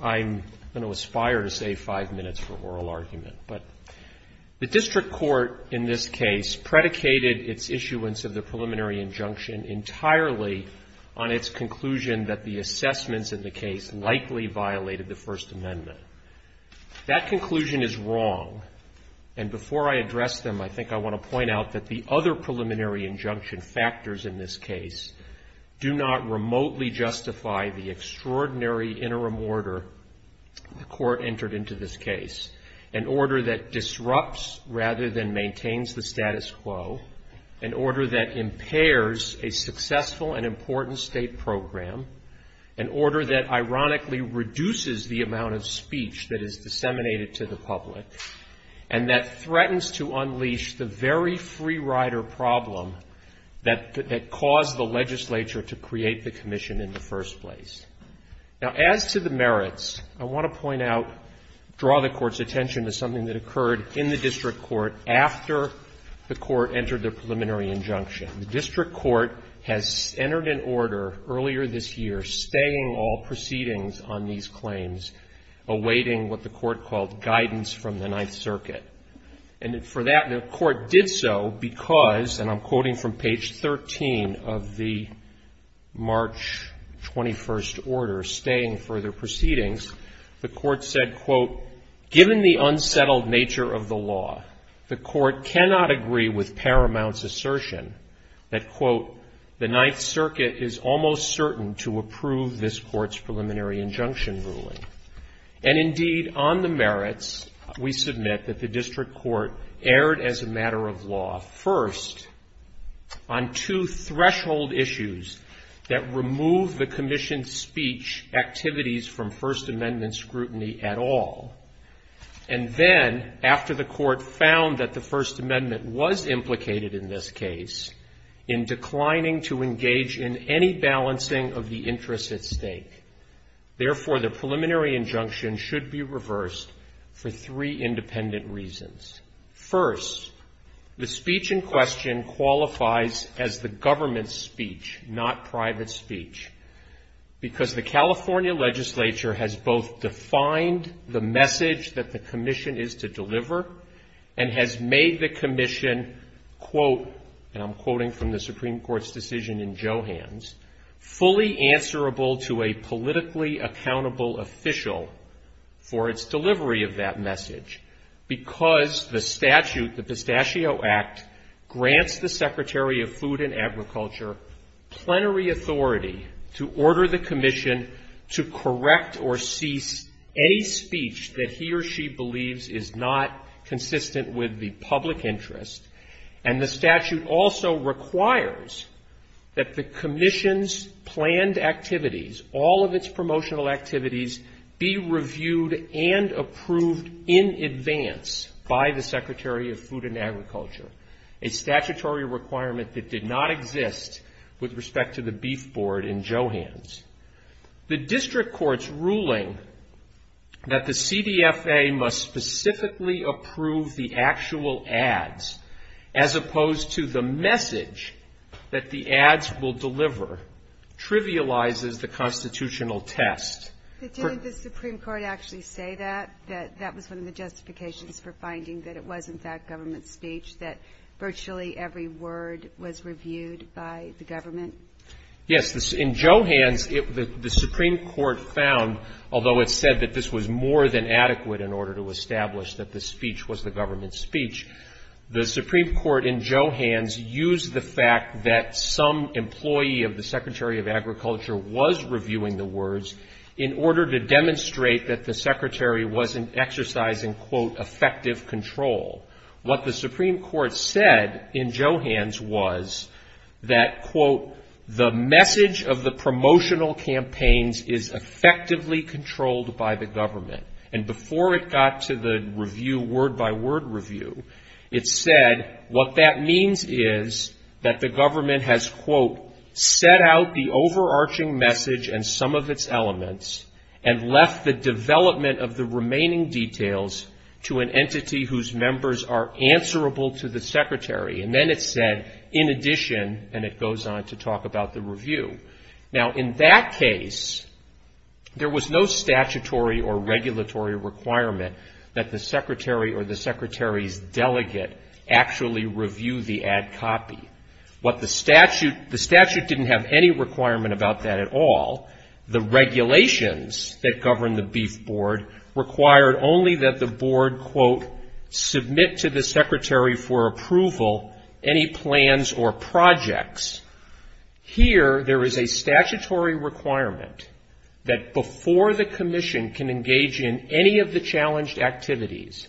I'm going to aspire to save five minutes for oral argument, but the district court in this case predicated its issuance of the preliminary injunction entirely on its conclusion that the assessments in the case likely violated the First Amendment. That conclusion is wrong, and before I address them, I think I want to point out that the other preliminary injunction factors in this case do not remotely justify the extraordinary interim order the court entered into this case. An order that disrupts rather than maintains the status quo, an order that impairs a successful and important state program, an order that ironically reduces the amount of speech that is disseminated to the public, and that threatens to unleash the very free rider problem that caused the legislature to create the commission in the first place. Now, as to the merits, I want to point out, draw the Court's attention to something that occurred in the district court after the court entered the preliminary injunction. The district court has entered an order earlier this year staying all proceedings on these claims, awaiting what the court called guidance from the Ninth Circuit. And for that, the court did so because, and I'm quoting from page 13 of the March 21st order, staying further proceedings. The court said, quote, given the unsettled nature of the law, the court cannot agree with Paramount's assertion that, quote, the Ninth Circuit is almost certain to approve this court's preliminary injunction ruling. And indeed, on the merits, we submit that the district court erred as a matter of law first on two threshold issues that remove the commission's speech activities from First Amendment scrutiny at all. And then, after the court found that the First Amendment was implicated in this case, in declining to engage in any balancing of the interests at stake. Therefore, the preliminary injunction should be reversed for three independent reasons. First, the speech in question qualifies as the government's speech, not private speech. Because the California legislature has both defined the message that the commission is to deliver and has made the commission, quote, and I'm quoting from the Supreme Court's decision in Johans, fully answerable to a politically accountable official for its delivery of that message. Because the statute, the Pistachio Act, grants the Secretary of Food and Agriculture plenary authority to order the commission to correct or cease any speech that he or she believes is not consistent with the public interest. And the statute also requires that the commission's planned activities, all of its promotional activities, be reviewed and approved in advance by the Secretary of Food and Agriculture. A statutory requirement that did not exist with respect to the beef board in Johans. The district court's ruling that the CDFA must specifically approve the actual ads, as opposed to the message that the ads will deliver, trivializes the constitutional test. But didn't the Supreme Court actually say that, that that was one of the justifications for finding that it was in fact government speech, that virtually every word was reviewed by the government? Yes. In Johans, the Supreme Court found, although it said that this was more than adequate in order to establish that the speech was the government's speech, the Supreme Court in Johans used the fact that some employee of the Secretary of Agriculture was reviewing the words in order to demonstrate that the Secretary wasn't exercising, quote, effective control. What the Supreme Court said in Johans was that, quote, the message of the promotional campaigns is effectively controlled by the government. And before it got to the review, word-by-word review, it said what that means is that the government has, quote, set out the overarching message and some of its elements, and left the development of the remaining details to an entity whose members are answerable to the Secretary. And then it said, in addition, and it goes on to talk about the review. Now, in that case, there was no statutory or regulatory requirement that the Secretary or the Secretary's delegate actually review the ad copy. What the statute, the statute didn't have any requirement about that at all. The regulations that govern the Beef Board required only that the board, quote, submit to the Secretary for approval any plans or projects. Here, there is a statutory requirement that before the commission can engage in any of the challenged activities,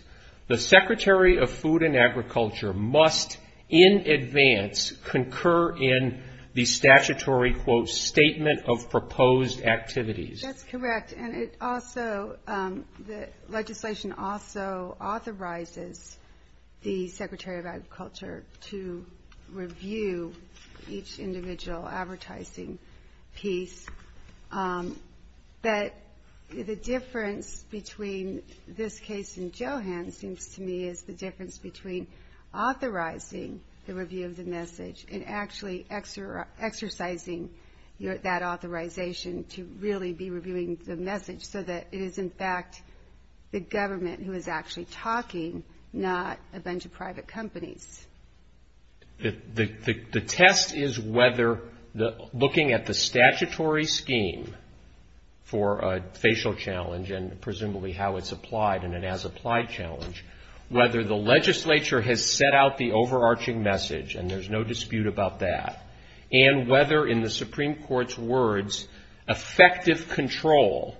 the Secretary of Food and Agriculture must in advance concur in the statutory, quote, statement of proposed activities. That's correct, and it also, the legislation also authorizes the Secretary of Agriculture to review each individual advertising piece. But the difference between this case and Johan's seems to me is the difference between authorizing the review of the message and actually exercising that authorization to really be reviewing the message so that it is, in fact, the government who is actually talking, not a bunch of private companies. The test is whether looking at the statutory scheme for a facial challenge, and presumably how it's applied in an as applied challenge, whether the legislature has set out the overarching message and there's no dispute about that, and whether in the Supreme Court's words, effective control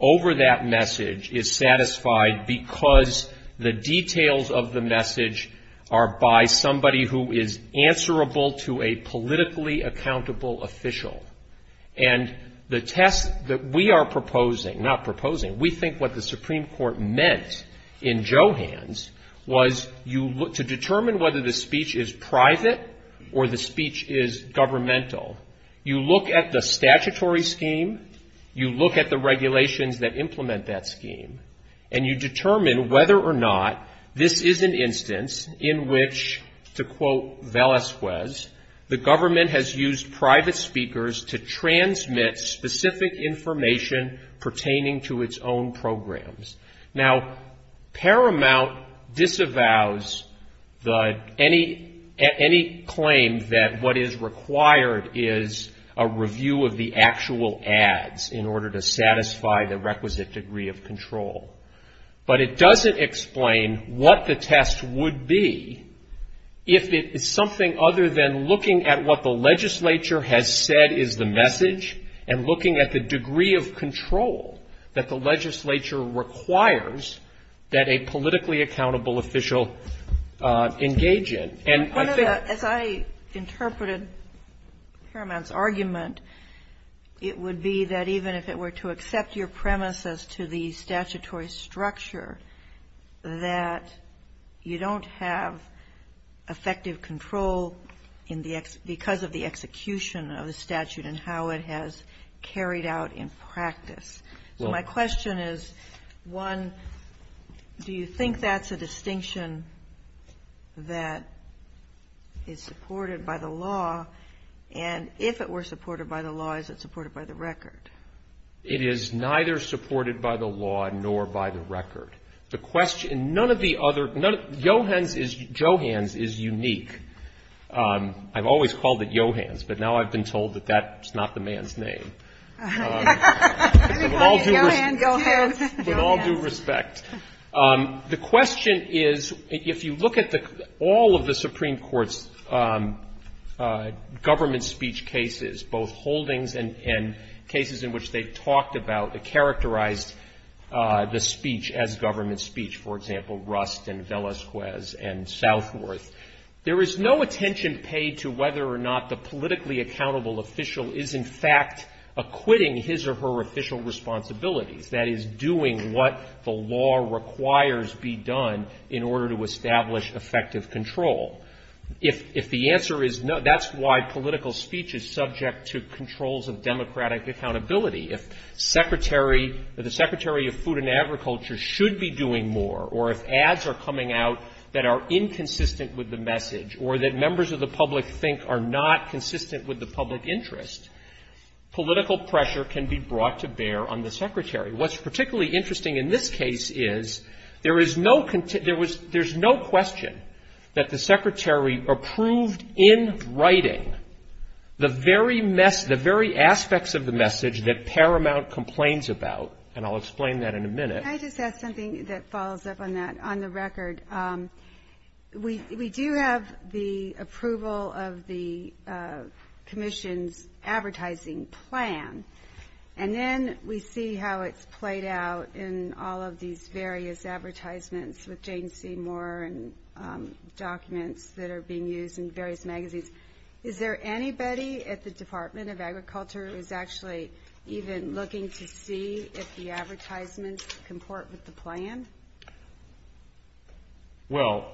over that message is satisfied because the details of the message are by somebody who is answerable to a politically accountable official. And the test that we are proposing, not proposing, we think what the Supreme Court meant in Johan's was you, to determine whether the speech is private or the speech is governmental. You look at the statutory scheme, you look at the regulations that implement that scheme, and you determine whether or not this is an instance in which, to quote Velesquez, the government has used private speakers to transmit specific information pertaining to its own programs. Now, Paramount disavows any claim that what is required is a review of the actual ads in order to satisfy the requisite degree of control. But it doesn't explain what the test would be if it is something other than looking at what the legislature has said is the message and looking at the degree of control that the legislature requires that a politically accountable official engage in. And I think that as I interpreted Paramount's argument, it would be that even if it were to accept your premise as to the statutory structure, that you don't have effective control because of the execution of the statute and how it has carried out in practice. So my question is, one, do you think that's a distinction that is supported by the law? And if it were supported by the law, is it supported by the record? It is neither supported by the law nor by the record. The question, none of the other, Johans is unique. I've always called it Johans, but now I've been told that that's not the man's name. With all due respect. The question is, if you look at all of the Supreme Court's government speech cases, both holdings and cases in which they've talked about or characterized the speech as government speech, for example, Rust and Velasquez and Southworth, there is no attention paid to whether or not the politically accountable official is, in fact, acquitting his or her official responsibilities, that is, doing what the law requires be done in order to establish effective control. If the answer is no, that's why political speech is subject to controls of democratic accountability. If the Secretary of Food and Agriculture should be doing more, or if ads are coming out that are inconsistent with the message, or that members of the public think are not consistent with the public interest, political pressure can be brought to bear on the Secretary. What's particularly interesting in this case is there is no, there's no question that the Secretary approved in writing the very mess, the very aspects of the message that Paramount complains about, and I'll explain that in a minute. Can I just add something that follows up on that? On the record, we do have the approval of the commission's advertising plan, and then we see how it's played out in all of these various advertisements with Jane Seymour and documents that are being used in various magazines. Is there anybody at the Department of Agriculture who's actually even looking to see if the advertisements comport with the plan? Well,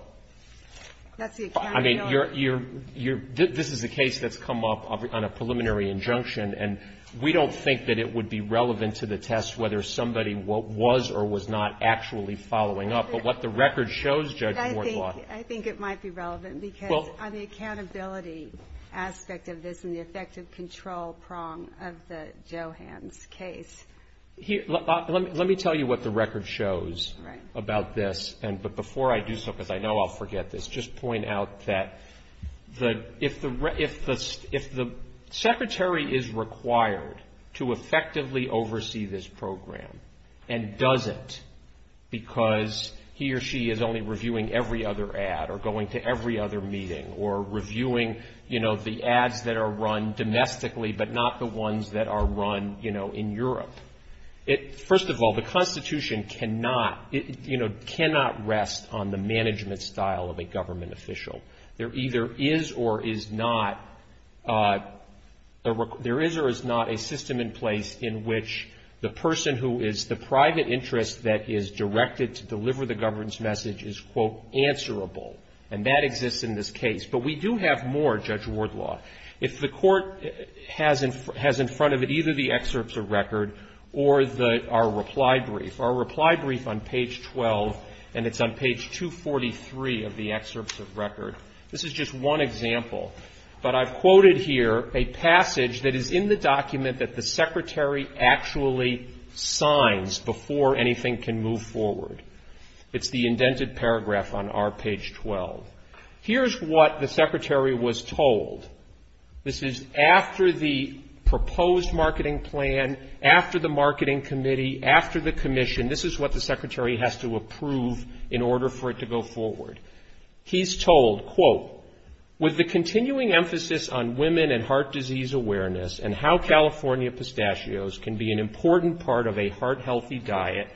I mean, this is a case that's come up on a preliminary injunction, and we don't think that it would be relevant to the test whether somebody was or was not actually following up. But what the record shows, Judge Mortlaw. I think it might be relevant because on the accountability aspect of this and the effective control prong of the Johans case. Let me tell you what the record shows about this, but before I do so, because I know I'll forget this, let's just point out that if the secretary is required to effectively oversee this program and doesn't because he or she is only reviewing every other ad or going to every other meeting or reviewing, you know, the ads that are run domestically but not the ones that are run, you know, in Europe, first of all, the Constitution cannot, you know, cannot rest on the management style of a government official. There either is or is not a system in place in which the person who is the private interest that is directed to deliver the governance message is, quote, answerable. And that exists in this case. But we do have more, Judge Mortlaw. If the court has in front of it either the excerpts of record or our reply brief. Our reply brief on page 12, and it's on page 243 of the excerpts of record. This is just one example. But I've quoted here a passage that is in the document that the secretary actually signs before anything can move forward. It's the indented paragraph on our page 12. Here's what the secretary was told. This is after the proposed marketing plan, after the marketing committee, after the commission. This is what the secretary has to approve in order for it to go forward. He's told, quote, with the continuing emphasis on women and heart disease awareness and how California pistachios can be an important part of a heart healthy diet,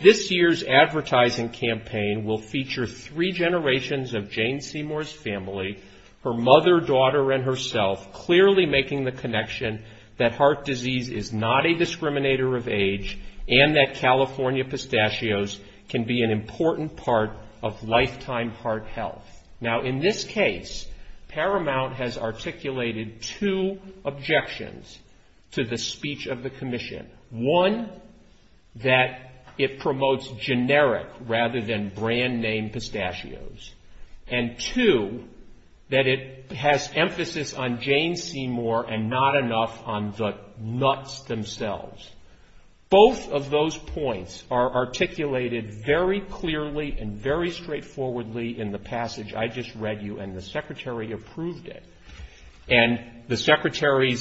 this year's advertising campaign will feature three generations of Jane Seymour's family, her mother, daughter, and herself, clearly making the connection that heart disease is not a discriminator of age and that California pistachios can be an important part of lifetime heart health. Now, in this case, Paramount has articulated two objections to the speech of the commission. One, that it promotes generic rather than brand name pistachios. And two, that it has emphasis on Jane Seymour and not enough on the nuts themselves. Both of those points are articulated very clearly and very straightforwardly in the passage I just read you, and the secretary approved it. And the secretary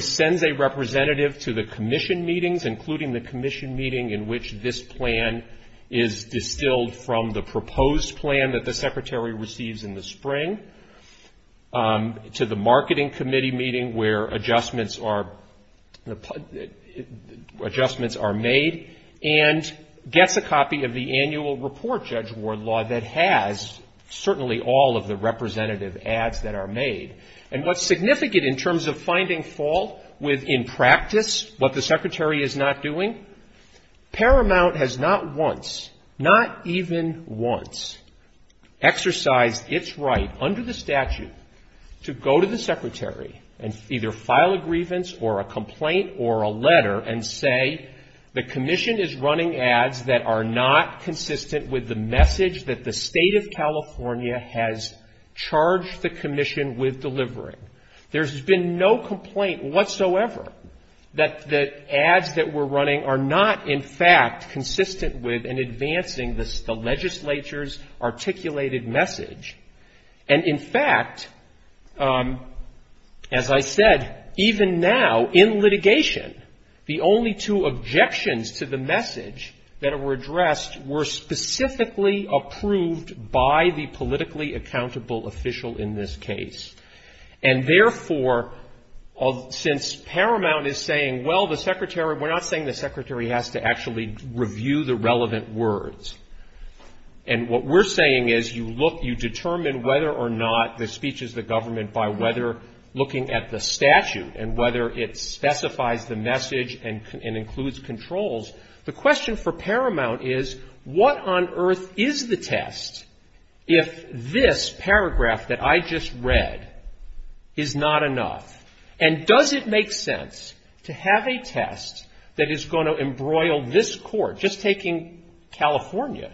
sends a representative to the commission meetings, including the commission meeting in which this plan is distilled from the proposed plan that the secretary receives in the spring, to the marketing committee meeting where adjustments are made, and gets a copy of the annual report, Judge Wardlaw, that has certainly all of the representative ads that are made. And what's significant in terms of finding fault with, in practice, what the secretary is not doing, Paramount has not once, not even once, exercised its right under the statute to go to the secretary and either file a grievance or a complaint or a letter and say, the commission is running ads that are not consistent with the message that the State of California has charged the commission with delivering. There's been no complaint whatsoever that the ads that we're running are not, in fact, consistent with and advancing the legislature's articulated message. And, in fact, as I said, even now in litigation, the only two objections to the message that were addressed were specifically approved by the politically accountable official in this case. And, therefore, since Paramount is saying, well, the secretary, we're not saying the secretary has to actually review the relevant words. And what we're saying is you look, you determine whether or not the speech is the government by whether looking at the statute and whether it specifies the message and includes controls. The question for Paramount is, what on earth is the test if this paragraph that I just read is not enough? And does it make sense to have a test that is going to embroil this Court, just taking California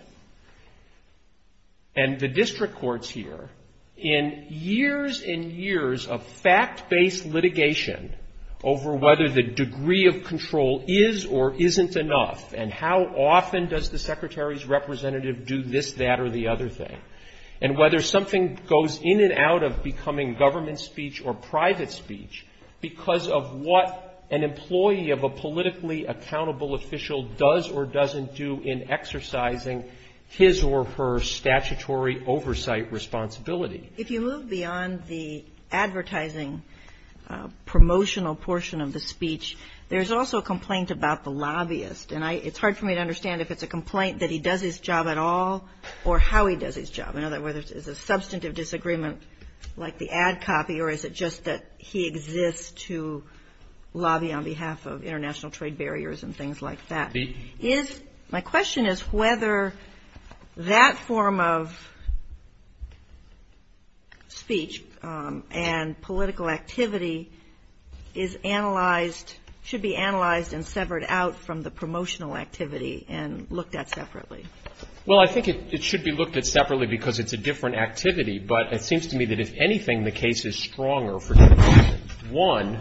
and the district courts here, in years and years of fact-based litigation over whether the degree of control is or isn't enough, and how often does the secretary's representative do this, that, or the other thing, and whether something goes in and out of becoming government speech or private speech because of what an employee of a politically accountable official does or doesn't do in exercising his or her statutory oversight responsibility? If you move beyond the advertising promotional portion of the speech, there's also a complaint about the lobbyist. And it's hard for me to understand if it's a complaint that he does his job at all or how he does his job. In other words, is it substantive disagreement like the ad copy, or is it just that he exists to lobby on behalf of international trade barriers and things like that? My question is whether that form of speech and political activity is analyzed, should be analyzed and severed out from the promotional activity and looked at separately. Well, I think it should be looked at separately because it's a different activity. But it seems to me that, if anything, the case is stronger for two reasons. One,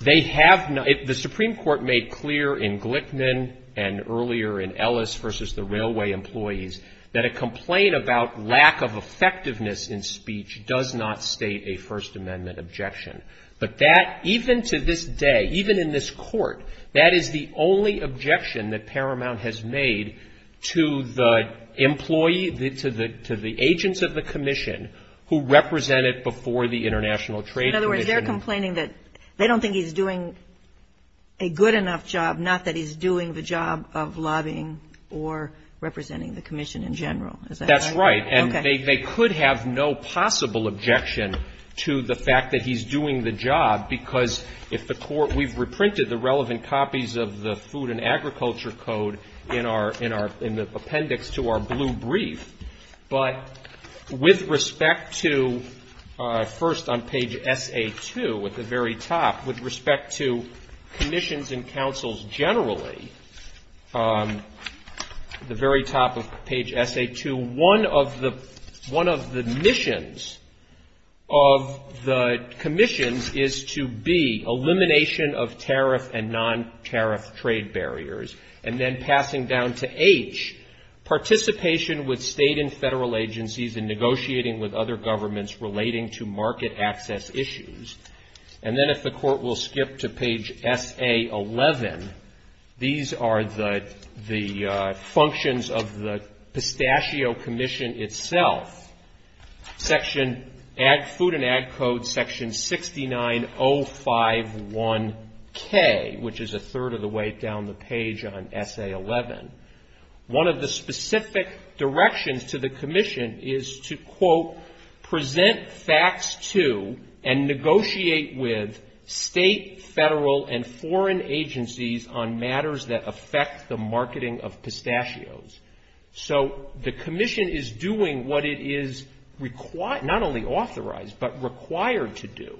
they have not — the Supreme Court made clear in Glickman and earlier in Ellis v. the Railway Employees that a complaint about lack of effectiveness in speech does not state a First Amendment objection. But that, even to this day, even in this Court, that is the only objection that Paramount has made to the employee, to the agents of the commission who represent it before the International Trade Commission. In other words, they're complaining that they don't think he's doing a good enough job, not that he's doing the job of lobbying or representing the commission in general. Is that right? That's right. Okay. They could have no possible objection to the fact that he's doing the job, because if the Court — we've reprinted the relevant copies of the Food and Agriculture Code in our — in the appendix to our blue brief. But with respect to — first, on page SA2, at the very top, with respect to commissions and councils generally, the very top of page SA2, one of the missions of the commissions is to B, elimination of tariff and non-tariff trade barriers, and then passing down to H, participation with state and federal agencies in negotiating with other governments relating to market access issues. And then if the Court will skip to page SA11, these are the functions of the Pistachio Commission itself. Section — Food and Ag Code section 69051K, which is a third of the way down the page on SA11. One of the specific directions to the commission is to, quote, present facts to and negotiate with state, federal, and foreign agencies on matters that affect the marketing of pistachios. So the commission is doing what it is not only authorized, but required to do.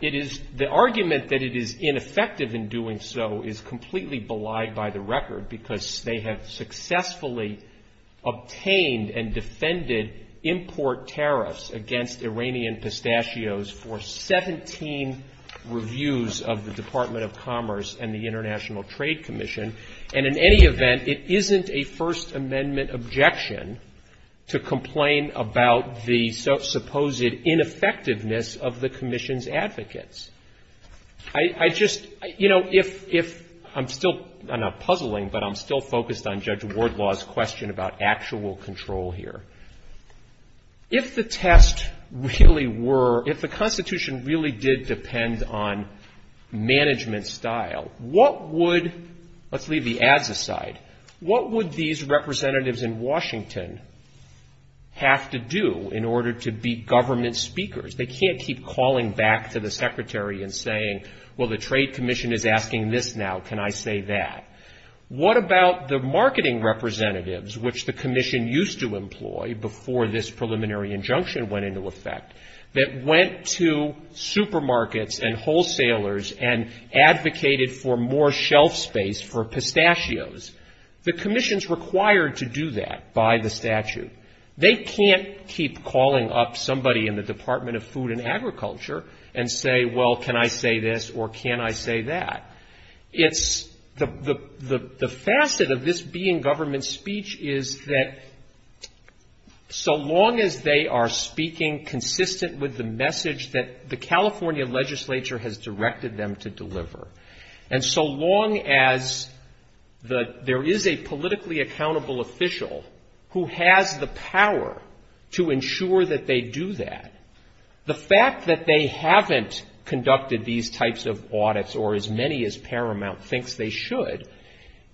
It is — the argument that it is ineffective in doing so is completely belied by the record, because they have successfully obtained and defended import tariffs against Iranian pistachios for 17 reviews of the Department of Commerce and the International Trade Commission. And in any event, it isn't a First Amendment objection to complain about the supposed ineffectiveness of the commission's advocates. I just — you know, if — I'm still — I'm not puzzling, but I'm still focused on Judge Wardlaw's question about actual control here. If the test really were — if the Constitution really did depend on management style, what would — let's leave the ads aside — what would these representatives in Washington have to do in order to be government speakers? They can't keep calling back to the secretary and saying, well, the Trade Commission is asking this now. Can I say that? What about the marketing representatives, which the commission used to employ before this preliminary injunction went into effect, that went to supermarkets and wholesalers and advocated for more shelf space for pistachios? The commission's required to do that by the statute. They can't keep calling up somebody in the Department of Commerce or the Department of Food and Agriculture and say, well, can I say this or can I say that? It's — the facet of this being government speech is that so long as they are speaking consistent with the message that the California legislature has directed them to deliver, and so long as the — there is a politically accountable official who has the power to ensure that they do that, the fact that they haven't conducted these types of audits, or as many as Paramount thinks they should,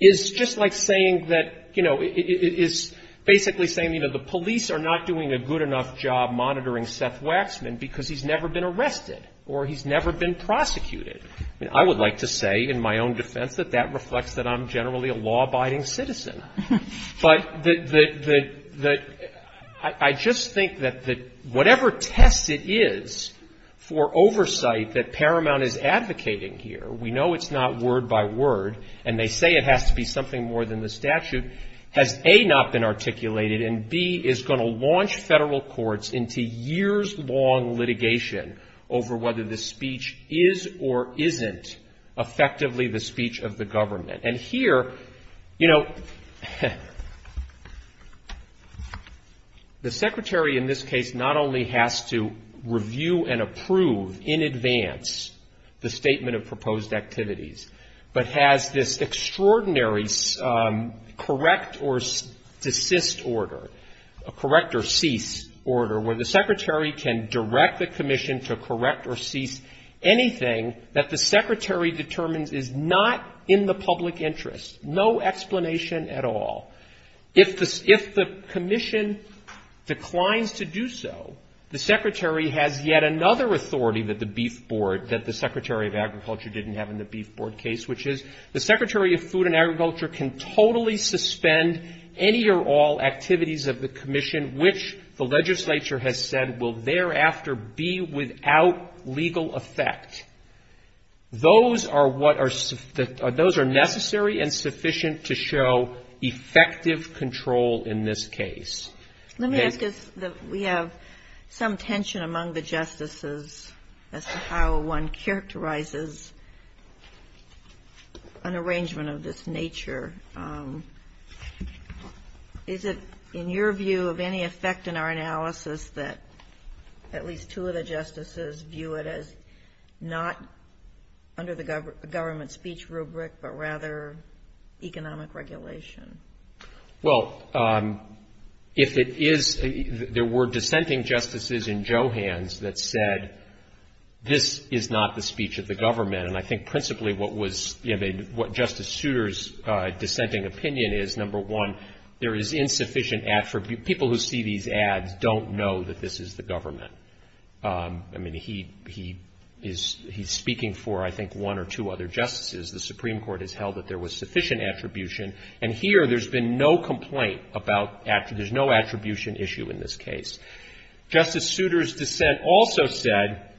is just like saying that — you know, is basically saying, you know, the police are not doing a good enough job monitoring Seth Waxman because he's never been arrested or he's never been prosecuted. I mean, I would like to say in my own defense that that reflects that I'm generally a law-abiding citizen. But the — I just think that whatever test it is for oversight that Paramount is advocating here, we know it's not word by word, and they say it has to be something more than the statute, has, A, not been articulated, and, B, is going to launch Federal courts into years-long litigation over whether the speech is or isn't effectively the speech of the court. The secretary, in this case, not only has to review and approve in advance the statement of proposed activities, but has this extraordinary correct or desist order, correct or cease order, where the secretary can direct the commission to correct or cease anything that the secretary determines is not in the public interest. No explanation at all. If the commission declines to do so, the secretary has yet another authority that the Beef Board, that the Secretary of Agriculture didn't have in the Beef Board case, which is the Secretary of Food and Agriculture can totally suspend any or all activities of the commission, which the legislature has said will thereafter be without legal effect. Those are necessary and sufficient to show effective control in this case. Let me ask, we have some tension among the justices as to how one characterizes an arrangement of this nature. Is it, in your view, of any effect in our analysis that at least two of the justices view it as not under the government's speech rubric, but rather economic regulation? Well, if it is, there were dissenting justices in Johans that said this is not the speech of the government, and I think principally what was, you know, what Justice Souter's dissenting opinion is, number one, there is insufficient attribute. People who see these ads don't know that this is the government. I mean, he is speaking for, I think, one or two other justices, the Supreme Court has held that there was sufficient attribution, and here there's been no complaint about, there's no attribution issue in this case. Justice Souter's dissent also said,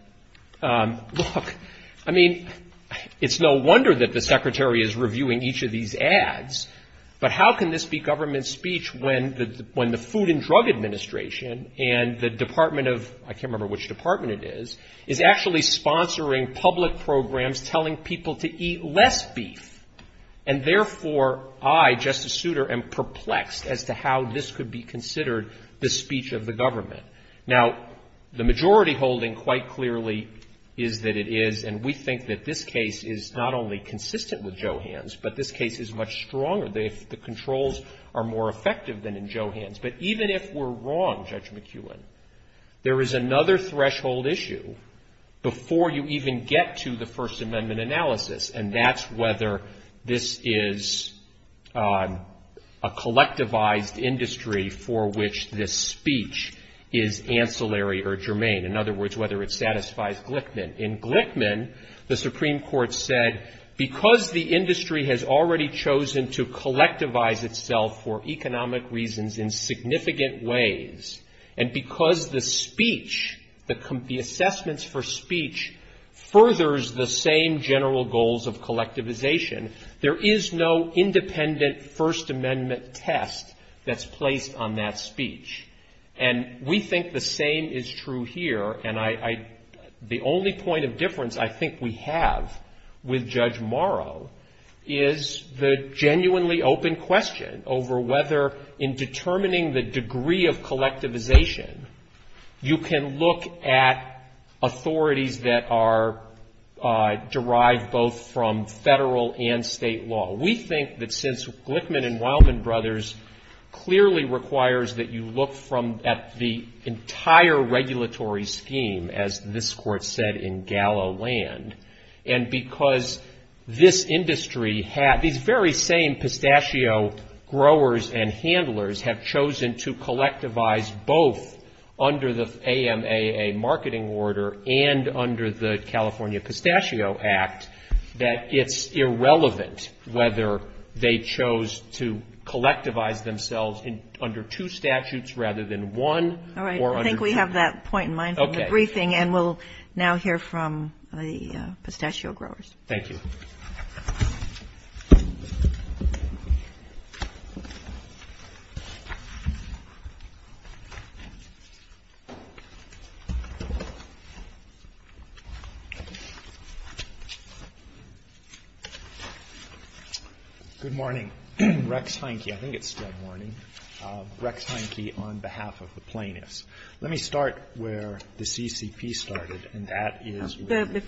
look, I mean, it's no wonder that the Secretary is reviewing each of these ads, but how can this be government speech when the Food and Drug Administration and the Department of, I can't remember which department it is, is actually sponsoring public programs telling people to eat less beef, and therefore I, Justice Souter, am perplexed as to how this could be considered the speech of the government. Now, the majority holding quite clearly is that it is, and we think that this case is not only consistent with Johans, but this case is much stronger. The controls are more effective than in Johans. But even if we're wrong, Judge McEwen, there is another threshold issue before you even get to the First Amendment analysis, and that's whether this is a collectivized industry for which this speech is ancillary or germane. In other words, whether it satisfies Glickman. In Glickman, the Supreme Court said, because the industry has already chosen to collectivize itself for economic reasons in significant ways, and because the speech, the assessments for speech, furthers the same general goals of collectivization, there is no independent First Amendment test that's placed on that speech. And we think the same is true here, and I, the only point of difference I think we have with Judge Morrow is the genuinely open question over whether in determining the degree of collectivization, you can look at authorities that are derived both from federal and state law. We think that since Glickman and Wildman Brothers clearly requires that you look from at the entire regulatory scheme, as this Court said, in gallow land, and because this industry had these very same pistachio-oil-oil-oil-oil-oil-oil-oil-oil-oil-oil, growers and handlers have chosen to collectivize both under the AMAA marketing order and under the California Pistachio Act, that it's irrelevant whether they chose to collectivize themselves under two statutes rather than one or under two. All right. I think we have that point in mind for the briefing, and we'll now hear from the pistachio growers. Thank you. Good morning. Rex Heineke. I think it's still morning. Rex Heineke on behalf of the plaintiffs. Let me start where the CCP started, and that is with the plaintiffs.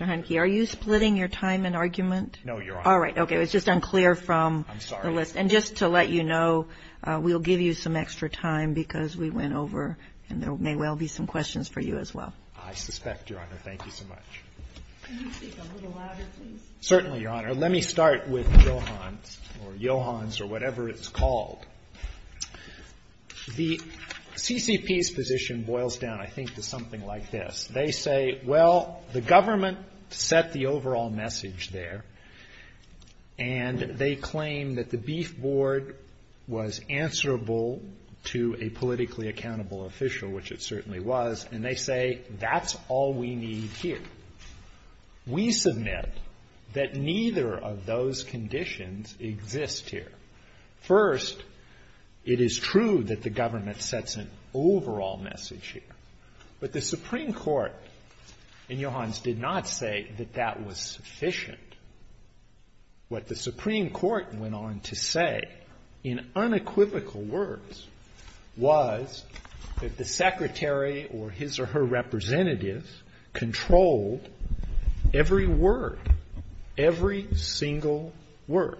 I'm sorry. Are we splitting your time and argument? No, Your Honor. All right. Okay. It was just unclear from the list. And just to let you know, we'll give you some extra time, because we went over, and there may well be some questions for you as well. I suspect, Your Honor. Thank you so much. Certainly, Your Honor. Let me start with Johans or Johans or whatever it's called. The CCP's position boils down, I think, to something like this. They say, well, the government set the overall message there, and they claim that the beef board was answerable to a politically accountable official, which it certainly was. And they say, that's all we need here. We submit that neither of those conditions exist here. First, it is true that the government sets an overall message here. But the Supreme Court in Johans did not say that that was sufficient. What the Supreme Court went on to say, in unequivocal words, was that the Secretary or his or her representatives controlled every word, every single word,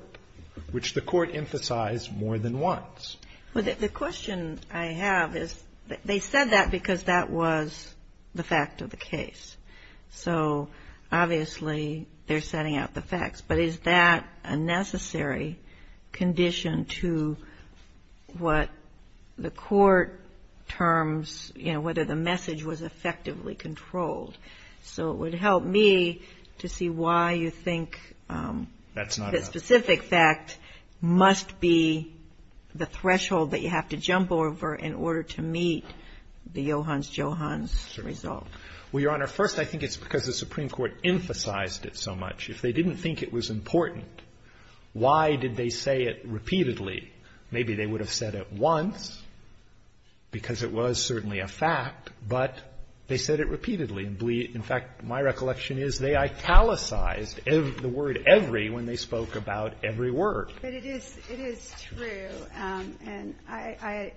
which the Court emphasized more than once. Well, the question I have is, they said that because that was the fact of the case. So, obviously, they're setting out the facts. But is that a necessary condition to what the Court terms, you know, whether the message was effectively controlled? So it would help me to see why you think... that you have to jump over in order to meet the Johans-Johans result. Well, Your Honor, first, I think it's because the Supreme Court emphasized it so much. If they didn't think it was important, why did they say it repeatedly? Maybe they would have said it once, because it was certainly a fact, but they said it repeatedly. In fact, my recollection is they italicized the word every when they spoke about every word. But it is true, and I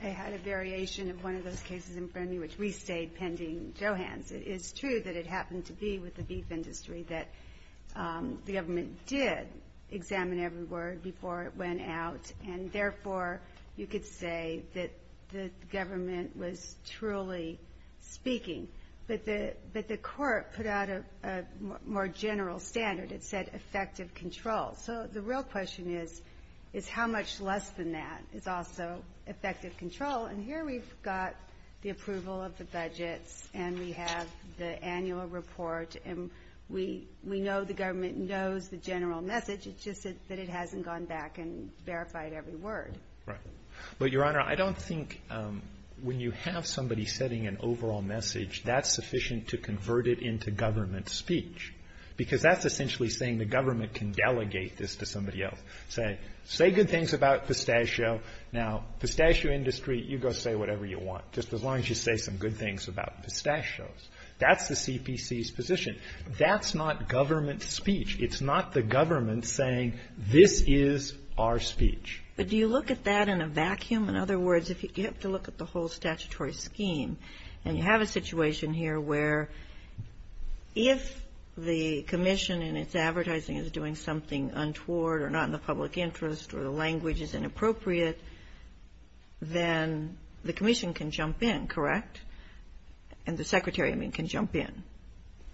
had a variation of one of those cases in front of me, which we stayed pending Johans. It is true that it happened to be with the beef industry that the government did examine every word before it went out. And therefore, you could say that the government was truly speaking. But the Court put out a more general standard. It said effective control. So the real question is, is how much less than that is also effective control? And here we've got the approval of the budgets, and we have the annual report, and we know the government knows the general message, it's just that it hasn't gone back and verified every word. Right. But, Your Honor, I don't think when you have somebody setting an overall message, that's sufficient to convert it into government speech. Because that's essentially saying the government can delegate this to somebody else. Say, say good things about pistachio. Now, pistachio industry, you go say whatever you want, just as long as you say some good things about pistachios. That's the CPC's position. That's not government speech. It's not the government saying, this is our speech. But do you look at that in a vacuum? In other words, you have to look at the whole statutory scheme. And you have a situation here where if the commission and its advertising is doing something untoward or not in the public interest or the language is inappropriate, then the commission can jump in, correct? And the secretary, I mean, can jump in.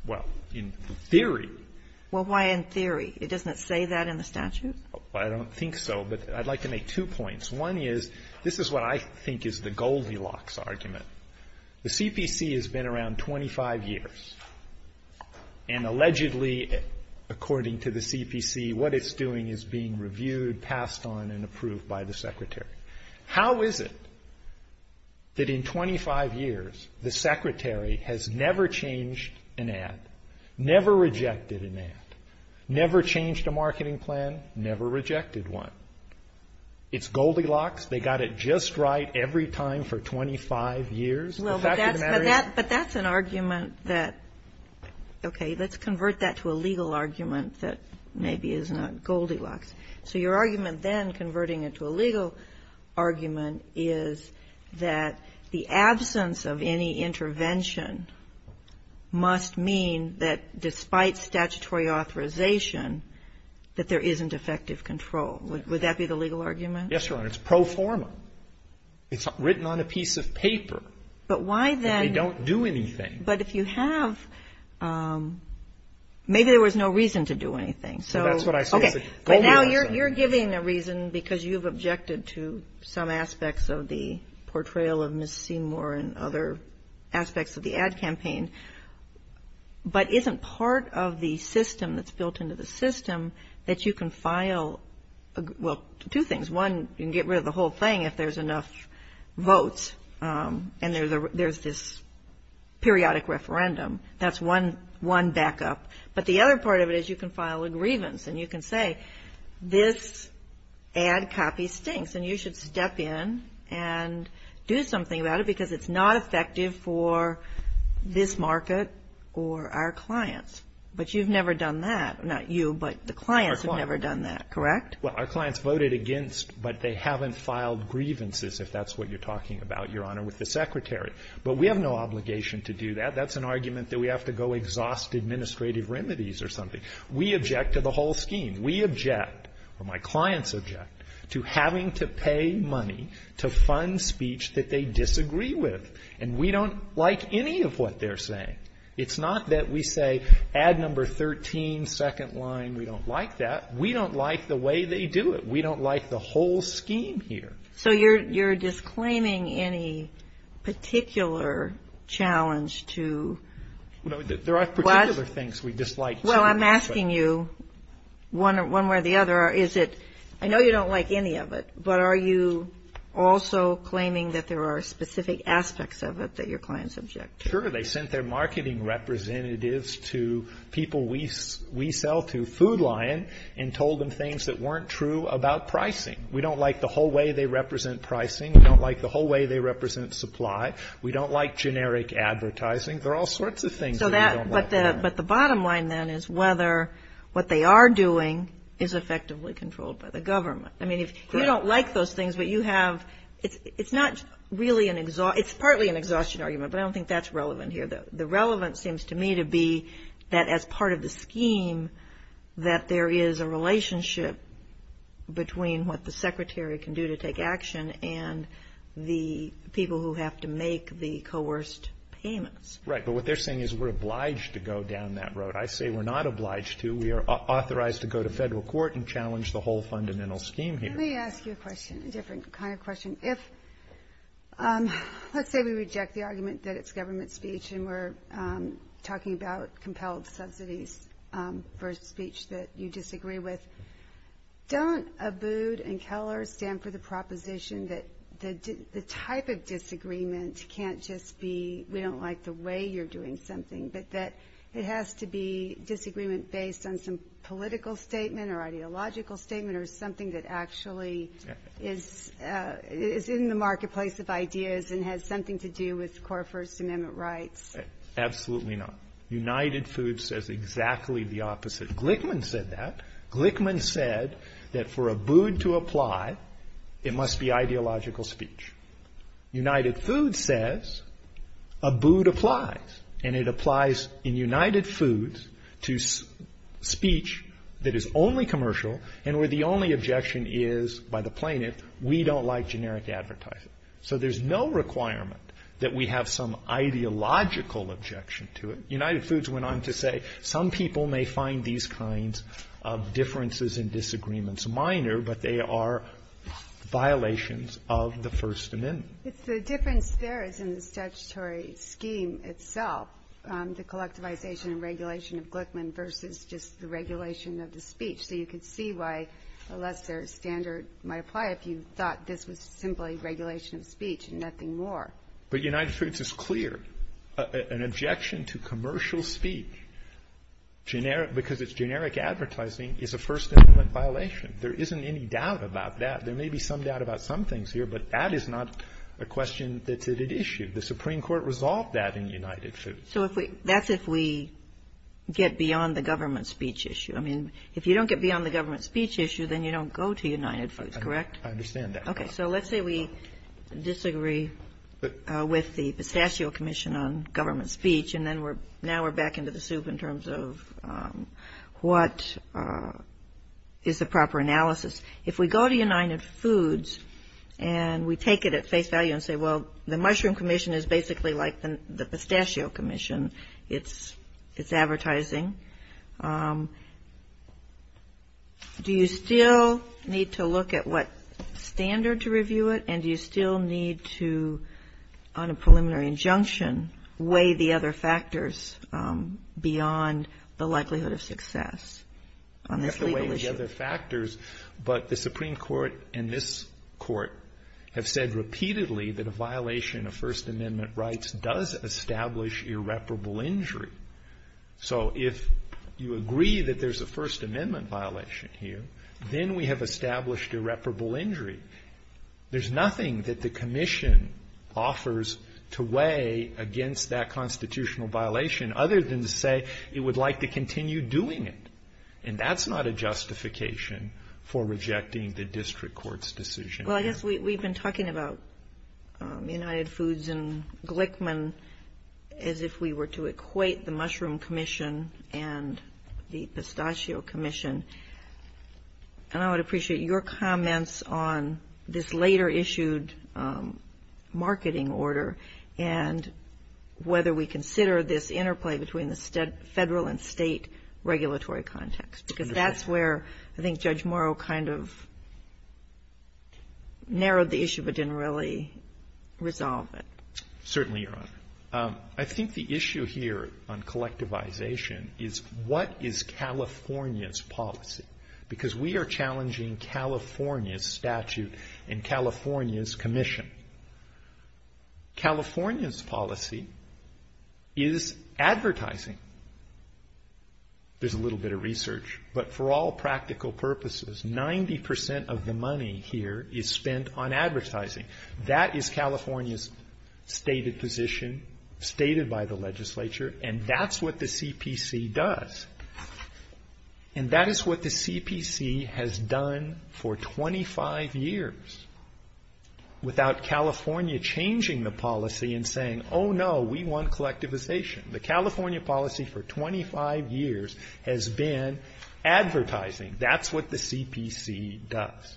Well, in theory. Well, why in theory? It doesn't say that in the statute? I don't think so, but I'd like to make two points. One is, this is what I think is the Goldilocks argument. The CPC has been around 25 years. And allegedly, according to the CPC, what it's doing is being reviewed, passed on, and approved by the secretary. How is it that in 25 years, the secretary has never changed an ad, never rejected an ad, never changed a marketing plan, never rejected one? It's Goldilocks. They got it just right every time for 25 years. Well, but that's an argument that, okay, let's convert that to a legal argument that maybe is not Goldilocks. So your argument then, converting it to a legal argument, is that the absence of any intervention must mean that despite statutory authorization, that there isn't effective control. Would that be the legal argument? Yes, Your Honor. It's pro forma. It's written on a piece of paper. But why then? But if you have, maybe there was no reason to do anything. So, okay, but now you're giving a reason because you've objected to some aspects of the portrayal of Ms. Seymour and other aspects of the ad campaign, but isn't part of the system that's built into the system that you can file, well, two things. One, you can get rid of the whole thing if there's enough votes and there's this periodic referendum. That's one backup. But the other part of it is you can file a grievance and you can say, this ad copy stinks. And you should step in and do something about it because it's not effective for this market or our clients. But you've never done that. Not you, but the clients have never done that, correct? Well, our clients voted against, but they haven't filed grievances, if that's what you're talking about, Your Honor, with the Secretary. But we have no obligation to do that. That's an argument that we have to go exhaust administrative remedies or something. We object to the whole scheme. We object, or my clients object, to having to pay money to fund speech that they disagree with. And we don't like any of what they're saying. It's not that we say, ad number 13, second line, we don't like that. We don't like the way they do it. We don't like the whole scheme here. So you're disclaiming any particular challenge to what? There are particular things we dislike, too. Well, I'm asking you, one way or the other, is it, I know you don't like any of it, but are you also claiming that there are specific aspects of it that your clients object to? Sure. They sent their marketing representatives to people we sell to, Food Lion, and told them things that weren't true about pricing. We don't like the whole way they represent pricing. We don't like the whole way they represent supply. We don't like generic advertising. There are all sorts of things that we don't like. But the bottom line, then, is whether what they are doing is effectively controlled by the government. I mean, if you don't like those things, but you have, it's not really an, it's partly an exhaustion argument, but I don't think that's relevant here. The relevance seems to me to be that as part of the scheme, that there is a relationship between what the scheme is and what the government is. And what the secretary can do to take action, and the people who have to make the coerced payments. Right, but what they're saying is we're obliged to go down that road. I say we're not obliged to. We are authorized to go to federal court and challenge the whole fundamental scheme here. Let me ask you a question, a different kind of question. If, let's say we reject the argument that it's government speech, and we're talking about compelled subsidies for speech that you disagree with. Don't Abood and Keller stand for the proposition that the type of disagreement can't just be we don't like the way you're doing something. But that it has to be disagreement based on some political statement or ideological statement or something that actually is in the marketplace of ideas and has something to do with core First Amendment rights. Absolutely not. United Foods says exactly the opposite. Glickman said that. Glickman said that for Abood to apply, it must be ideological speech. United Foods says Abood applies, and it applies in United Foods to speech that is only commercial and where the only objection is by the plaintiff, we don't like generic advertising. So there's no requirement that we have some ideological objection to it. United Foods went on to say some people may find these kinds of differences and disagreements minor, but they are violations of the First Amendment. It's the difference there is in the statutory scheme itself, the collectivization and regulation of Glickman versus just the regulation of the speech. So you can see why a Lester standard might apply if you thought this was simply regulation of speech and nothing more. But United Foods is clear. An objection to commercial speech, because it's generic advertising, is a First Amendment violation. There isn't any doubt about that. There may be some doubt about some things here, but that is not a question that's at issue. The Supreme Court resolved that in United Foods. So that's if we get beyond the government speech issue. I mean, if you don't get beyond the government speech issue, then you don't go to United Foods, correct? I understand that. Okay. So let's say we disagree with the Pistachio Commission on government speech, and now we're back into the soup in terms of what is the proper analysis. If we go to United Foods and we take it at face value and say, well, the Mushroom Commission is basically like the Pistachio Commission. It's advertising. Do you still need to look at what standard to review it, and do you still need to, on a preliminary injunction, weigh the other factors beyond the likelihood of success on this legal issue? You have to weigh the other factors, but the Supreme Court and this Court have said repeatedly that a violation of First Amendment rights does establish irreparable injury. So if you agree that there's a First Amendment violation here, then we have established irreparable injury. There's nothing that the Commission offers to weigh against that constitutional violation, other than to say it would like to continue doing it. And that's not a justification for rejecting the district court's decision. Well, I guess we've been talking about United Foods and Glickman as if we were to equate the two. We've been talking about the Mushroom Commission and the Pistachio Commission. And I would appreciate your comments on this later-issued marketing order and whether we consider this interplay between the federal and state regulatory context, because that's where I think Judge Morrow kind of narrowed the issue but didn't really resolve it. Certainly, Your Honor. I think the issue here on collectivization is what is California's policy, because we are challenging California's statute and California's commission. California's policy is advertising. There's a little bit of research, but for all practical purposes, 90 percent of the money here is spent on advertising. That is California's stated position, stated by the legislature, and that's what the CPC does. And that is what the CPC has done for 25 years, without California changing the policy and saying, oh, no, we want collectivization. The California policy for 25 years has been advertising. That's what the CPC does.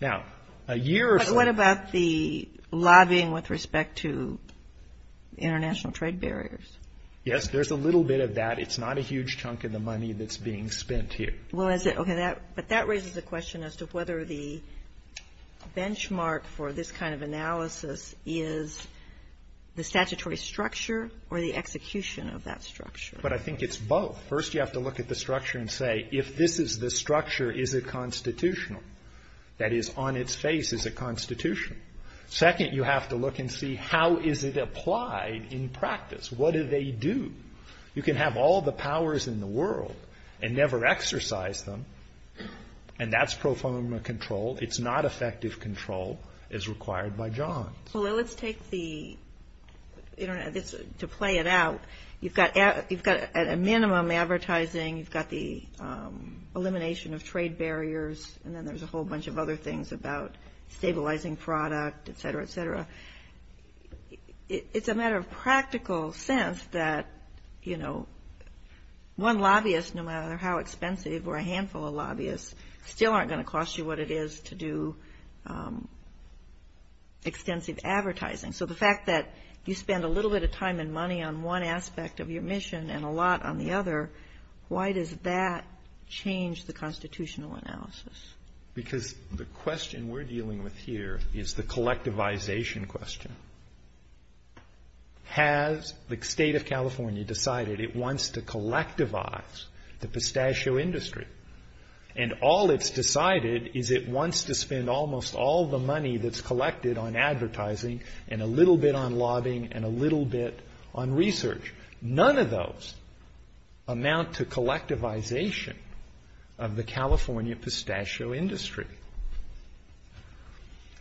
And the lobbying with respect to international trade barriers. Yes, there's a little bit of that. It's not a huge chunk of the money that's being spent here. Well, is it? Okay, but that raises the question as to whether the benchmark for this kind of analysis is the statutory structure or the execution of that structure. But I think it's both. First, you have to look at the structure and say, if this is the structure, is it constitutional? That is, on its face, is it constitutional? Second, you have to look and see, how is it applied in practice? What do they do? You can have all the powers in the world and never exercise them, and that's pro forma control. It's not effective control as required by Johns. Well, let's take the Internet, to play it out. You've got a minimum advertising, you've got the elimination of trade barriers, and then there's a whole bunch of other things about stabilizing product, et cetera, et cetera. It's a matter of practical sense that, you know, one lobbyist, no matter how expensive, or a handful of lobbyists, still aren't going to cost you what it is to do extensive advertising. So the fact that you spend a little bit of time and money on one aspect of your mission and a lot on the other, why does that change the constitutional analysis? Because the question we're dealing with here is the collectivization question. Has the state of California decided it wants to collectivize the pistachio industry? And all it's decided is it wants to spend almost all the money that's collected on advertising and a little bit on lobbying and a little bit on research. None of those amount to collectivization of the California pistachio industry.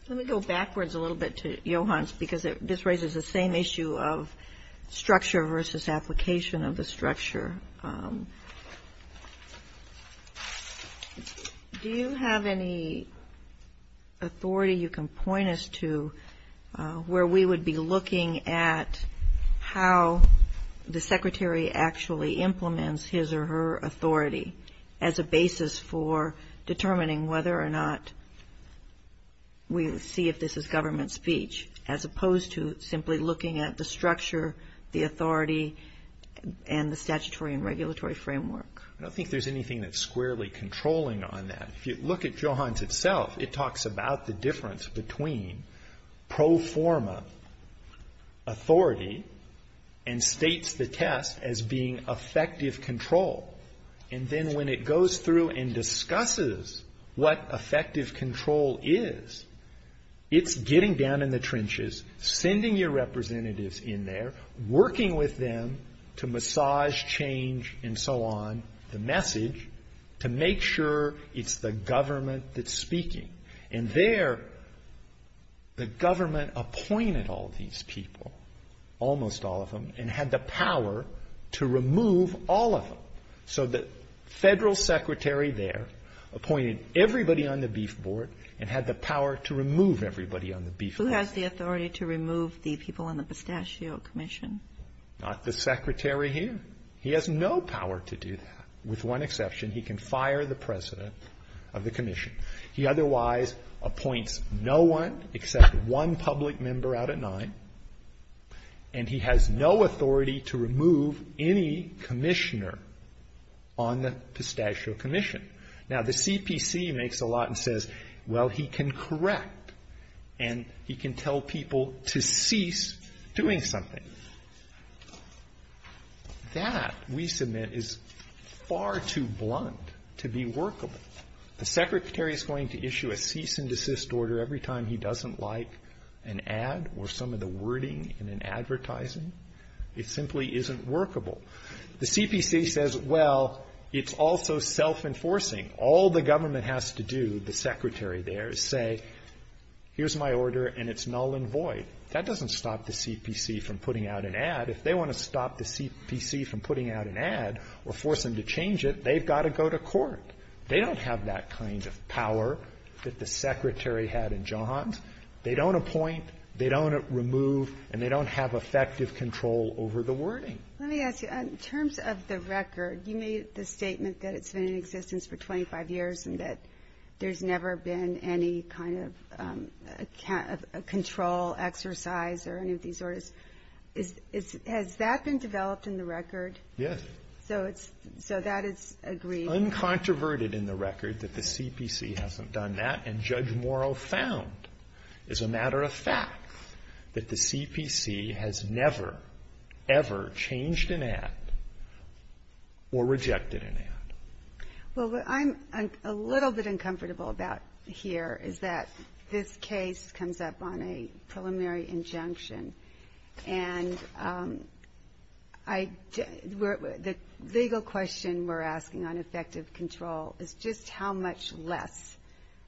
Let me go backwards a little bit to Johans, because this raises the same issue of structure versus application of the structure. Do you have any authority you can point us to where we would be looking at how the secretary actually implements his or her authority as a basis for determining whether or not we see if this is government speech, as opposed to simply looking at the structure, the authority, and the statutory and regulatory framework? I don't think there's anything that's squarely controlling on that. If you look at Johans itself, it talks about the difference between pro forma authority and states the test as being effective control. And then when it goes through and discusses what effective control is, it's getting down in the trenches, sending your representatives in there, working with them to get the message, to make sure it's the government that's speaking. And there, the government appointed all these people, almost all of them, and had the power to remove all of them. So the federal secretary there appointed everybody on the beef board and had the power to remove everybody on the beef board. Who has the authority to remove the people on the pistachio commission? Not the secretary here. He has no power to do that, with one exception, he can fire the president of the commission. He otherwise appoints no one except one public member out of nine, and he has no authority to remove any commissioner on the pistachio commission. Now the CPC makes a lot and says, well, he can correct, and he can tell people to cease doing something. That, we submit, is far too blunt to be workable. The secretary is going to issue a cease and desist order every time he doesn't like an ad or some of the wording in an advertising? It simply isn't workable. The CPC says, well, it's also self-enforcing. All the government has to do, the secretary there, is say, here's my order, and it's null and void. That doesn't stop the CPC from putting out an ad. If they want to stop the CPC from putting out an ad or force them to change it, they've got to go to court. They don't have that kind of power that the secretary had in Johns. They don't appoint, they don't remove, and they don't have effective control over the wording. Let me ask you, in terms of the record, you made the statement that it's been in existence for 25 years and that there's never been any kind of control, exercise, or any of these orders. Has that been developed in the record? Yes. Uncontroverted in the record that the CPC hasn't done that, and Judge Morrow found, as a matter of fact, that the CPC has never, ever changed an ad or rejected an ad. Well, what I'm a little bit uncomfortable about here is that this case comes up on a preliminary injunction, and the legal question we're asking on effective control is just how much less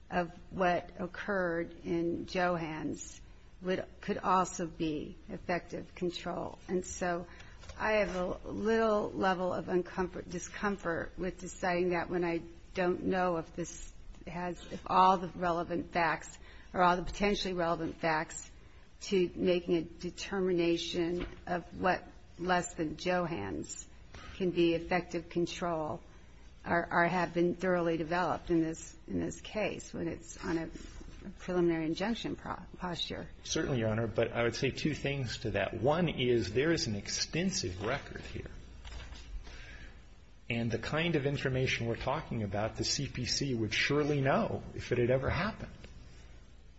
of what occurred in Johns could also be effective control. And so I have a little level of discomfort with deciding that when I don't know if this has, if all the relevant facts, or all the potentially relevant facts, to making a determination of what less than Johns can be effective control or have been thoroughly developed in this case when it's on a preliminary injunction posture. Certainly, Your Honor, but I would say two things to that. One is there is an extensive record here, and the kind of information we're talking about, the CPC would surely know if it had ever happened.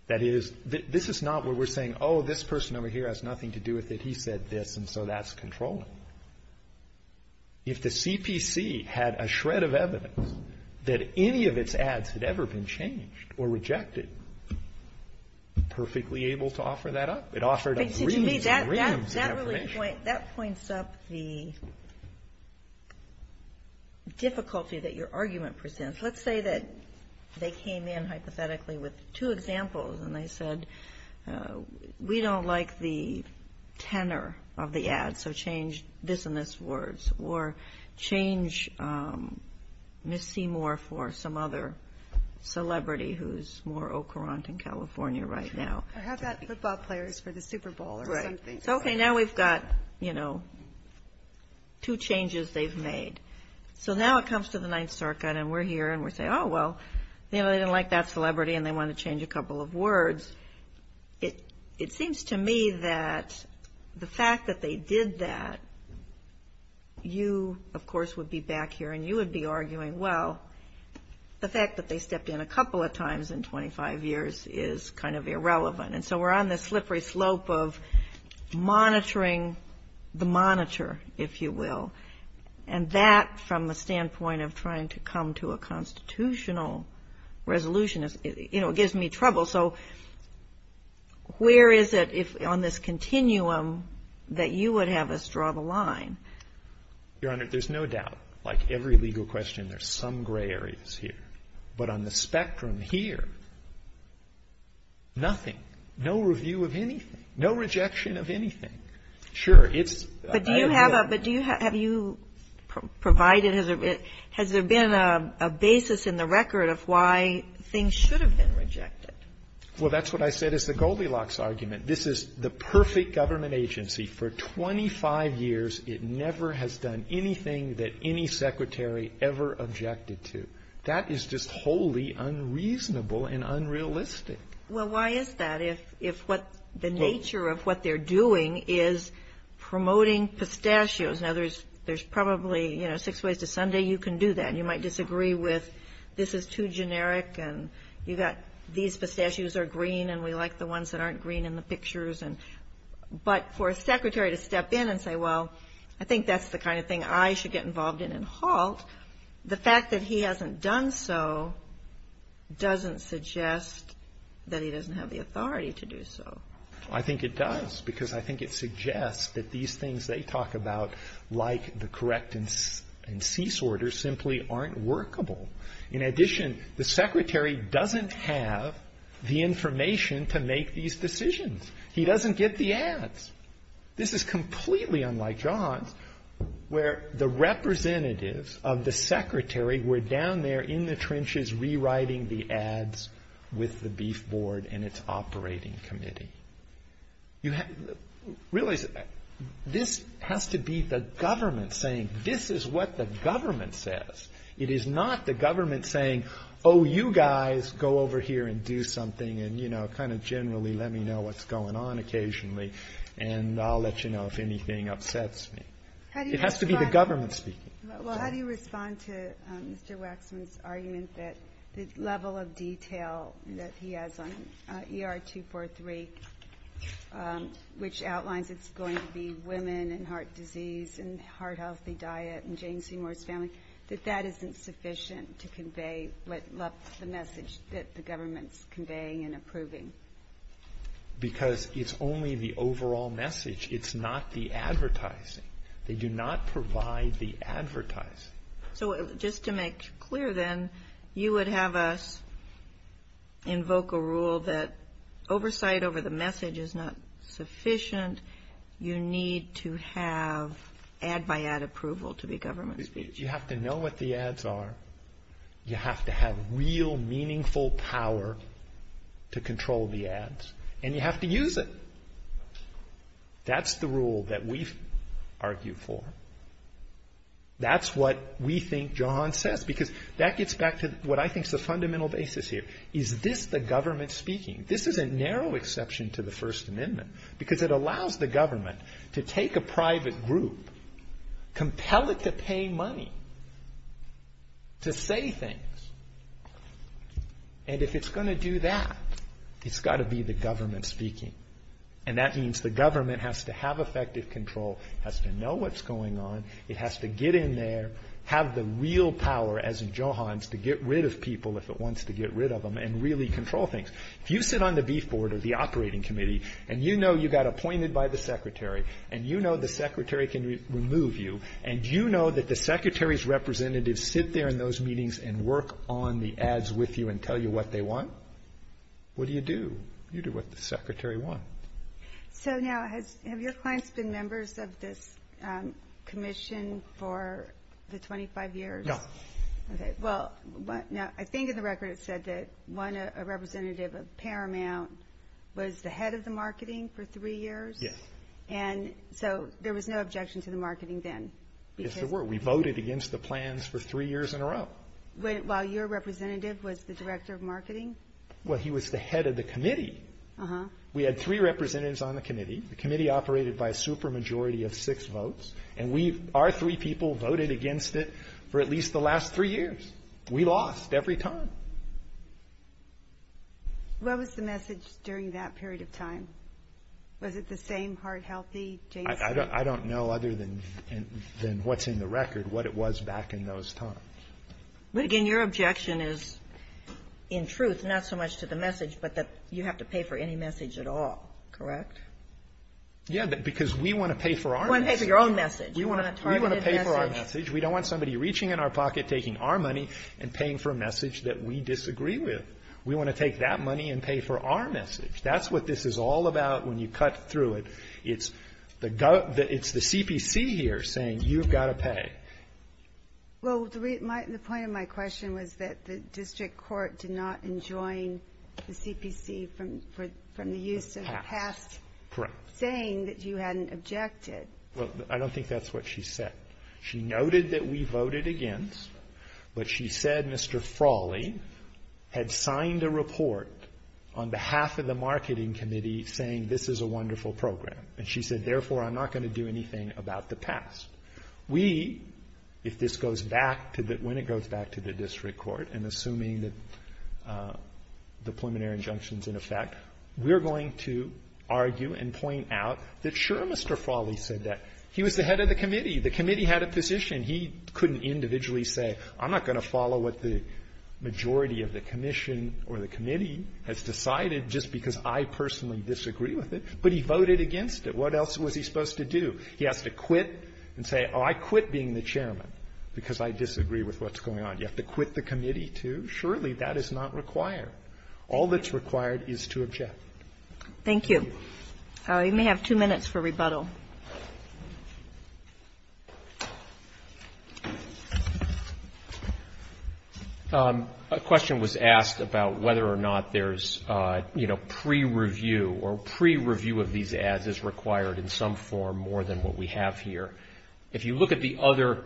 That is, this is not where we're saying, oh, this person over here has nothing to do with it, he said this, and so that's controlling. If the CPC had a shred of evidence that any of its ads had ever been changed or rejected, perfectly able to do that, that would be a very good thing. And I think the CPC would be able to offer that up. It offered up reams and reams of information. That points up the difficulty that your argument presents. Let's say that they came in hypothetically with two examples, and they said, we don't like the tenor of the ads, so change this and this words, or change Ms. Seymour for some other celebrity who's more au courant in California right now. I mean, football players for the Super Bowl or something. Okay, now we've got, you know, two changes they've made. So now it comes to the Ninth Circuit, and we're here, and we say, oh, well, you know, they didn't like that celebrity, and they want to change a couple of words. It seems to me that the fact that they did that, you, of course, would be back here, and you would be arguing, well, the fact that they stepped in a couple of times in 25 years is kind of irrelevant. And so we're on this slippery slope of monitoring the monitor, if you will. And that, from the standpoint of trying to come to a constitutional resolution, you know, it gives me trouble. So where is it on this continuum that you would have us draw the line? Your Honor, there's no doubt, like every legal question, there's some gray areas here. But on the spectrum here, nothing. No review of anything. No rejection of anything. Sure, it's... But do you have a, have you provided, has there been a basis in the record of why things should have been rejected? Well, that's what I said is the Goldilocks argument. This is the perfect government agency. For 25 years, it never has done anything that any Secretary ever objected to. That is just wholly unreasonable and unrealistic. If what the nature of what they're doing is promoting pistachios. Now, there's probably, you know, six ways to Sunday you can do that. And you might disagree with this is too generic, and you've got these pistachios are green, and we like the ones that aren't green in the pictures. But for a Secretary to step in and say, well, I think that's the kind of thing I should get involved in and halt, the fact that he hasn't done so doesn't suggest that he doesn't have the authority to do that. I think it does, because I think it suggests that these things they talk about, like the correct and cease orders, simply aren't workable. In addition, the Secretary doesn't have the information to make these decisions. He doesn't get the ads. This is completely unlike Johns, where the representatives of the Secretary were down there in the trenches rewriting the ads with the beef board, and it's operating. It's operating under a different committee. Realize that this has to be the government saying, this is what the government says. It is not the government saying, oh, you guys go over here and do something, and, you know, kind of generally let me know what's going on occasionally, and I'll let you know if anything upsets me. It has to be the government speaking. Well, how do you respond to Mr. Waxman's argument that the level of detail that he has on ER 243, which outlines it's going to be women and heart disease and heart healthy diet and Jane Seymour's family, that that isn't sufficient to convey what left the message that the government's conveying and approving? Because it's only the overall message. It's not the advertising. They do not provide the advertising. So just to make clear then, you would have us invoke a rule that oversight over the message is not sufficient. You need to have ad by ad approval to be government speech. You have to know what the ads are. You have to have real meaningful power to control the ads, and you have to use it. That's the rule that we've argued for. That's what we think John says, because that gets back to what I think is the fundamental basis here. Is this the government speaking? This is a narrow exception to the First Amendment, because it allows the government to take a private group, compel it to pay money, to say things, and if it's going to do that, it's got to be the government speaking. And that means the government has to have effective control, has to know what's going on, it has to get in there, have the real power, as in Johan's, to get rid of people if it wants to get rid of them and really control things. If you sit on the beef board or the operating committee and you know you got appointed by the secretary and you know the secretary can remove you and you know that the secretary's representatives sit there in those meetings and work on the ads with you and tell you what they want, what do you do? You do what the secretary wants. So now, have your clients been members of this commission for the 25 years? No. Okay, well, I think in the record it said that one representative of Paramount was the head of the marketing for three years? Yes. And so there was no objection to the marketing then? There were. We voted against the plans for three years in a row. While your representative was the director of marketing? Well, he was the head of the committee. We had three representatives on the committee. The committee operated by a super majority of six votes, and our three people voted against it for at least the last three years. We lost every time. What was the message during that period of time? Was it the same heart healthy? I don't know other than what's in the record what it was back in those times. But again, your objection is, in truth, not so much to the message, but that you have to pay for any message at all, correct? Yeah, because we want to pay for our message. We don't want somebody reaching in our pocket, taking our money, and paying for a message that we disagree with. We want to take that money and pay for our message. That's what this is all about when you cut through it. It's the CPC here saying, you've got to pay. Well, the point of my question was that the district court did not enjoin the CPC from the use of the past, saying that you hadn't objected. Well, I don't think that's what she said. She noted that we voted against, but she said Mr. Frawley had signed a report on behalf of the marketing committee saying, this is a wonderful program. And she said, therefore, I'm not going to do anything about the past. We, if this goes back to the, when it goes back to the district court, and assuming that the preliminary injunction's in effect, we're going to argue and point out that, sure, Mr. Frawley said that. He was the head of the committee. The committee had a position. He couldn't individually say, I'm not going to follow what the majority of the commission or the committee has decided just because I personally disagree with it, but he voted against it. What else was he supposed to do? He has to quit and say, oh, I quit being the chairman because I disagree with what's going on. A question was asked about whether or not there's, you know, pre-review, or pre-review of these ads is required in some form more than what we have here. If you look at the other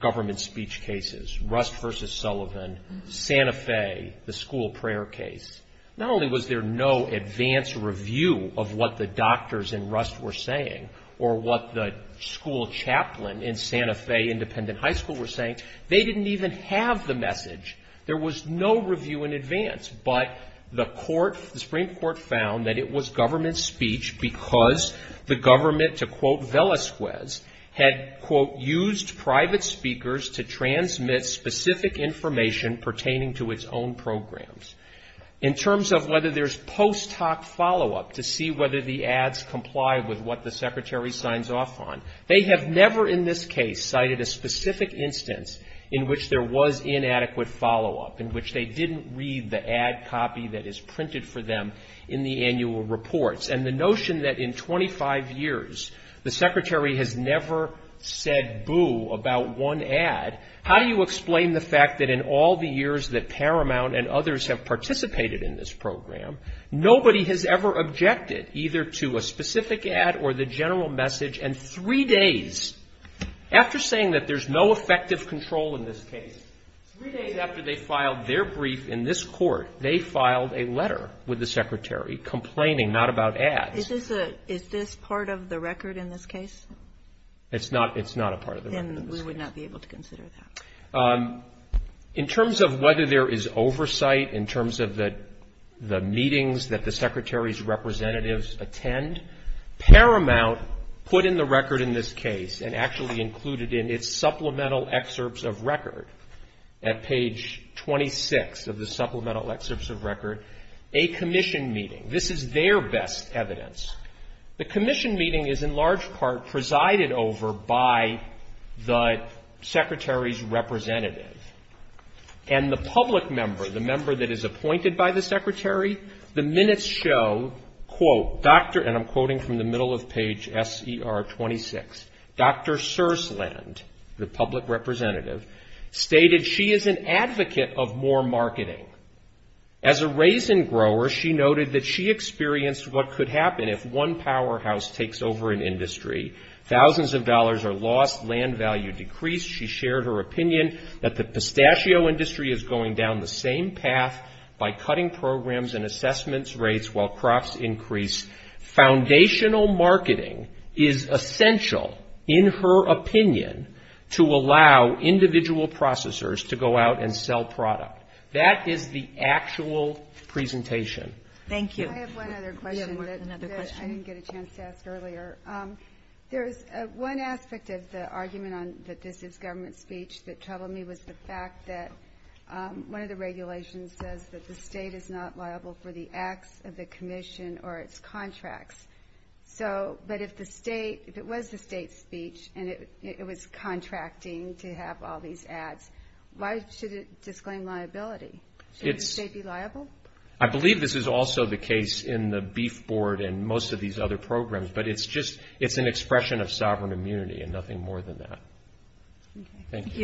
government speech cases, Rust v. Sullivan, Santa Fe, the school prayer case, not only was there no advanced review of what the doctors in Rust were saying, or what the school chaplain in Santa Fe Independent High School were saying, they didn't even have the message. There was no review in advance, but the court, the Supreme Court found that it was government speech because the government, to quote Velasquez, had, quote, used private speakers to transmit specific information pertaining to its own programs. In terms of whether there's post hoc follow-up to see whether the ads comply with what the secretary signs off on, they have never in this case cited a specific instance in which there was inadequate follow-up, in which they didn't read the ad copy that is printed for them in the annual reports. And the notion that in 25 years the secretary has never said boo about one ad, how do you explain the fact that in all the years that Paramount and others have participated in this program, nobody has ever objected either to a specific ad or the general message, and three days after saying that there's no effective control in this case, three days after they filed their brief in this court, they filed a letter with the secretary complaining not about ads. Is this part of the record in this case? It's not a part of the record in this case. And we would not be able to consider that. In terms of whether there is oversight, in terms of the meetings that the secretary's representatives attend, Paramount put in the record in this case and actually included in its supplemental excerpts of record at page 26 of the supplemental excerpts of record a commission meeting. This is their best evidence. The commission meeting is in large part presided over by the secretary's representative. And the public member, the member that is appointed by the secretary, the minutes show, quote, and I'm quoting from the middle of page S.E.R. 26, Dr. Sursland, the public representative, stated she is an advocate of more marketing. As a raisin grower, she noted that she is not an advocate of more marketing. She experienced what could happen if one powerhouse takes over an industry. Thousands of dollars are lost, land value decreased. She shared her opinion that the pistachio industry is going down the same path by cutting programs and assessment rates while crops increase. Foundational marketing is essential, in her opinion, to allow individual processors to go out and sell product. That is the actual presentation. I have one other question that I didn't get a chance to ask earlier. There is one aspect of the argument on that this is government speech that troubled me was the fact that one of the regulations says that the state is not liable for the acts of the commission or its contracts. So, but if the state, if it was the state's speech and it was contracting to have all these ads, why should it disclaim liability? Should the state be liable? I believe this is also the case in the Beef Board and most of these other programs, but it's just, it's an expression of sovereign immunity and nothing more than that. Thank you.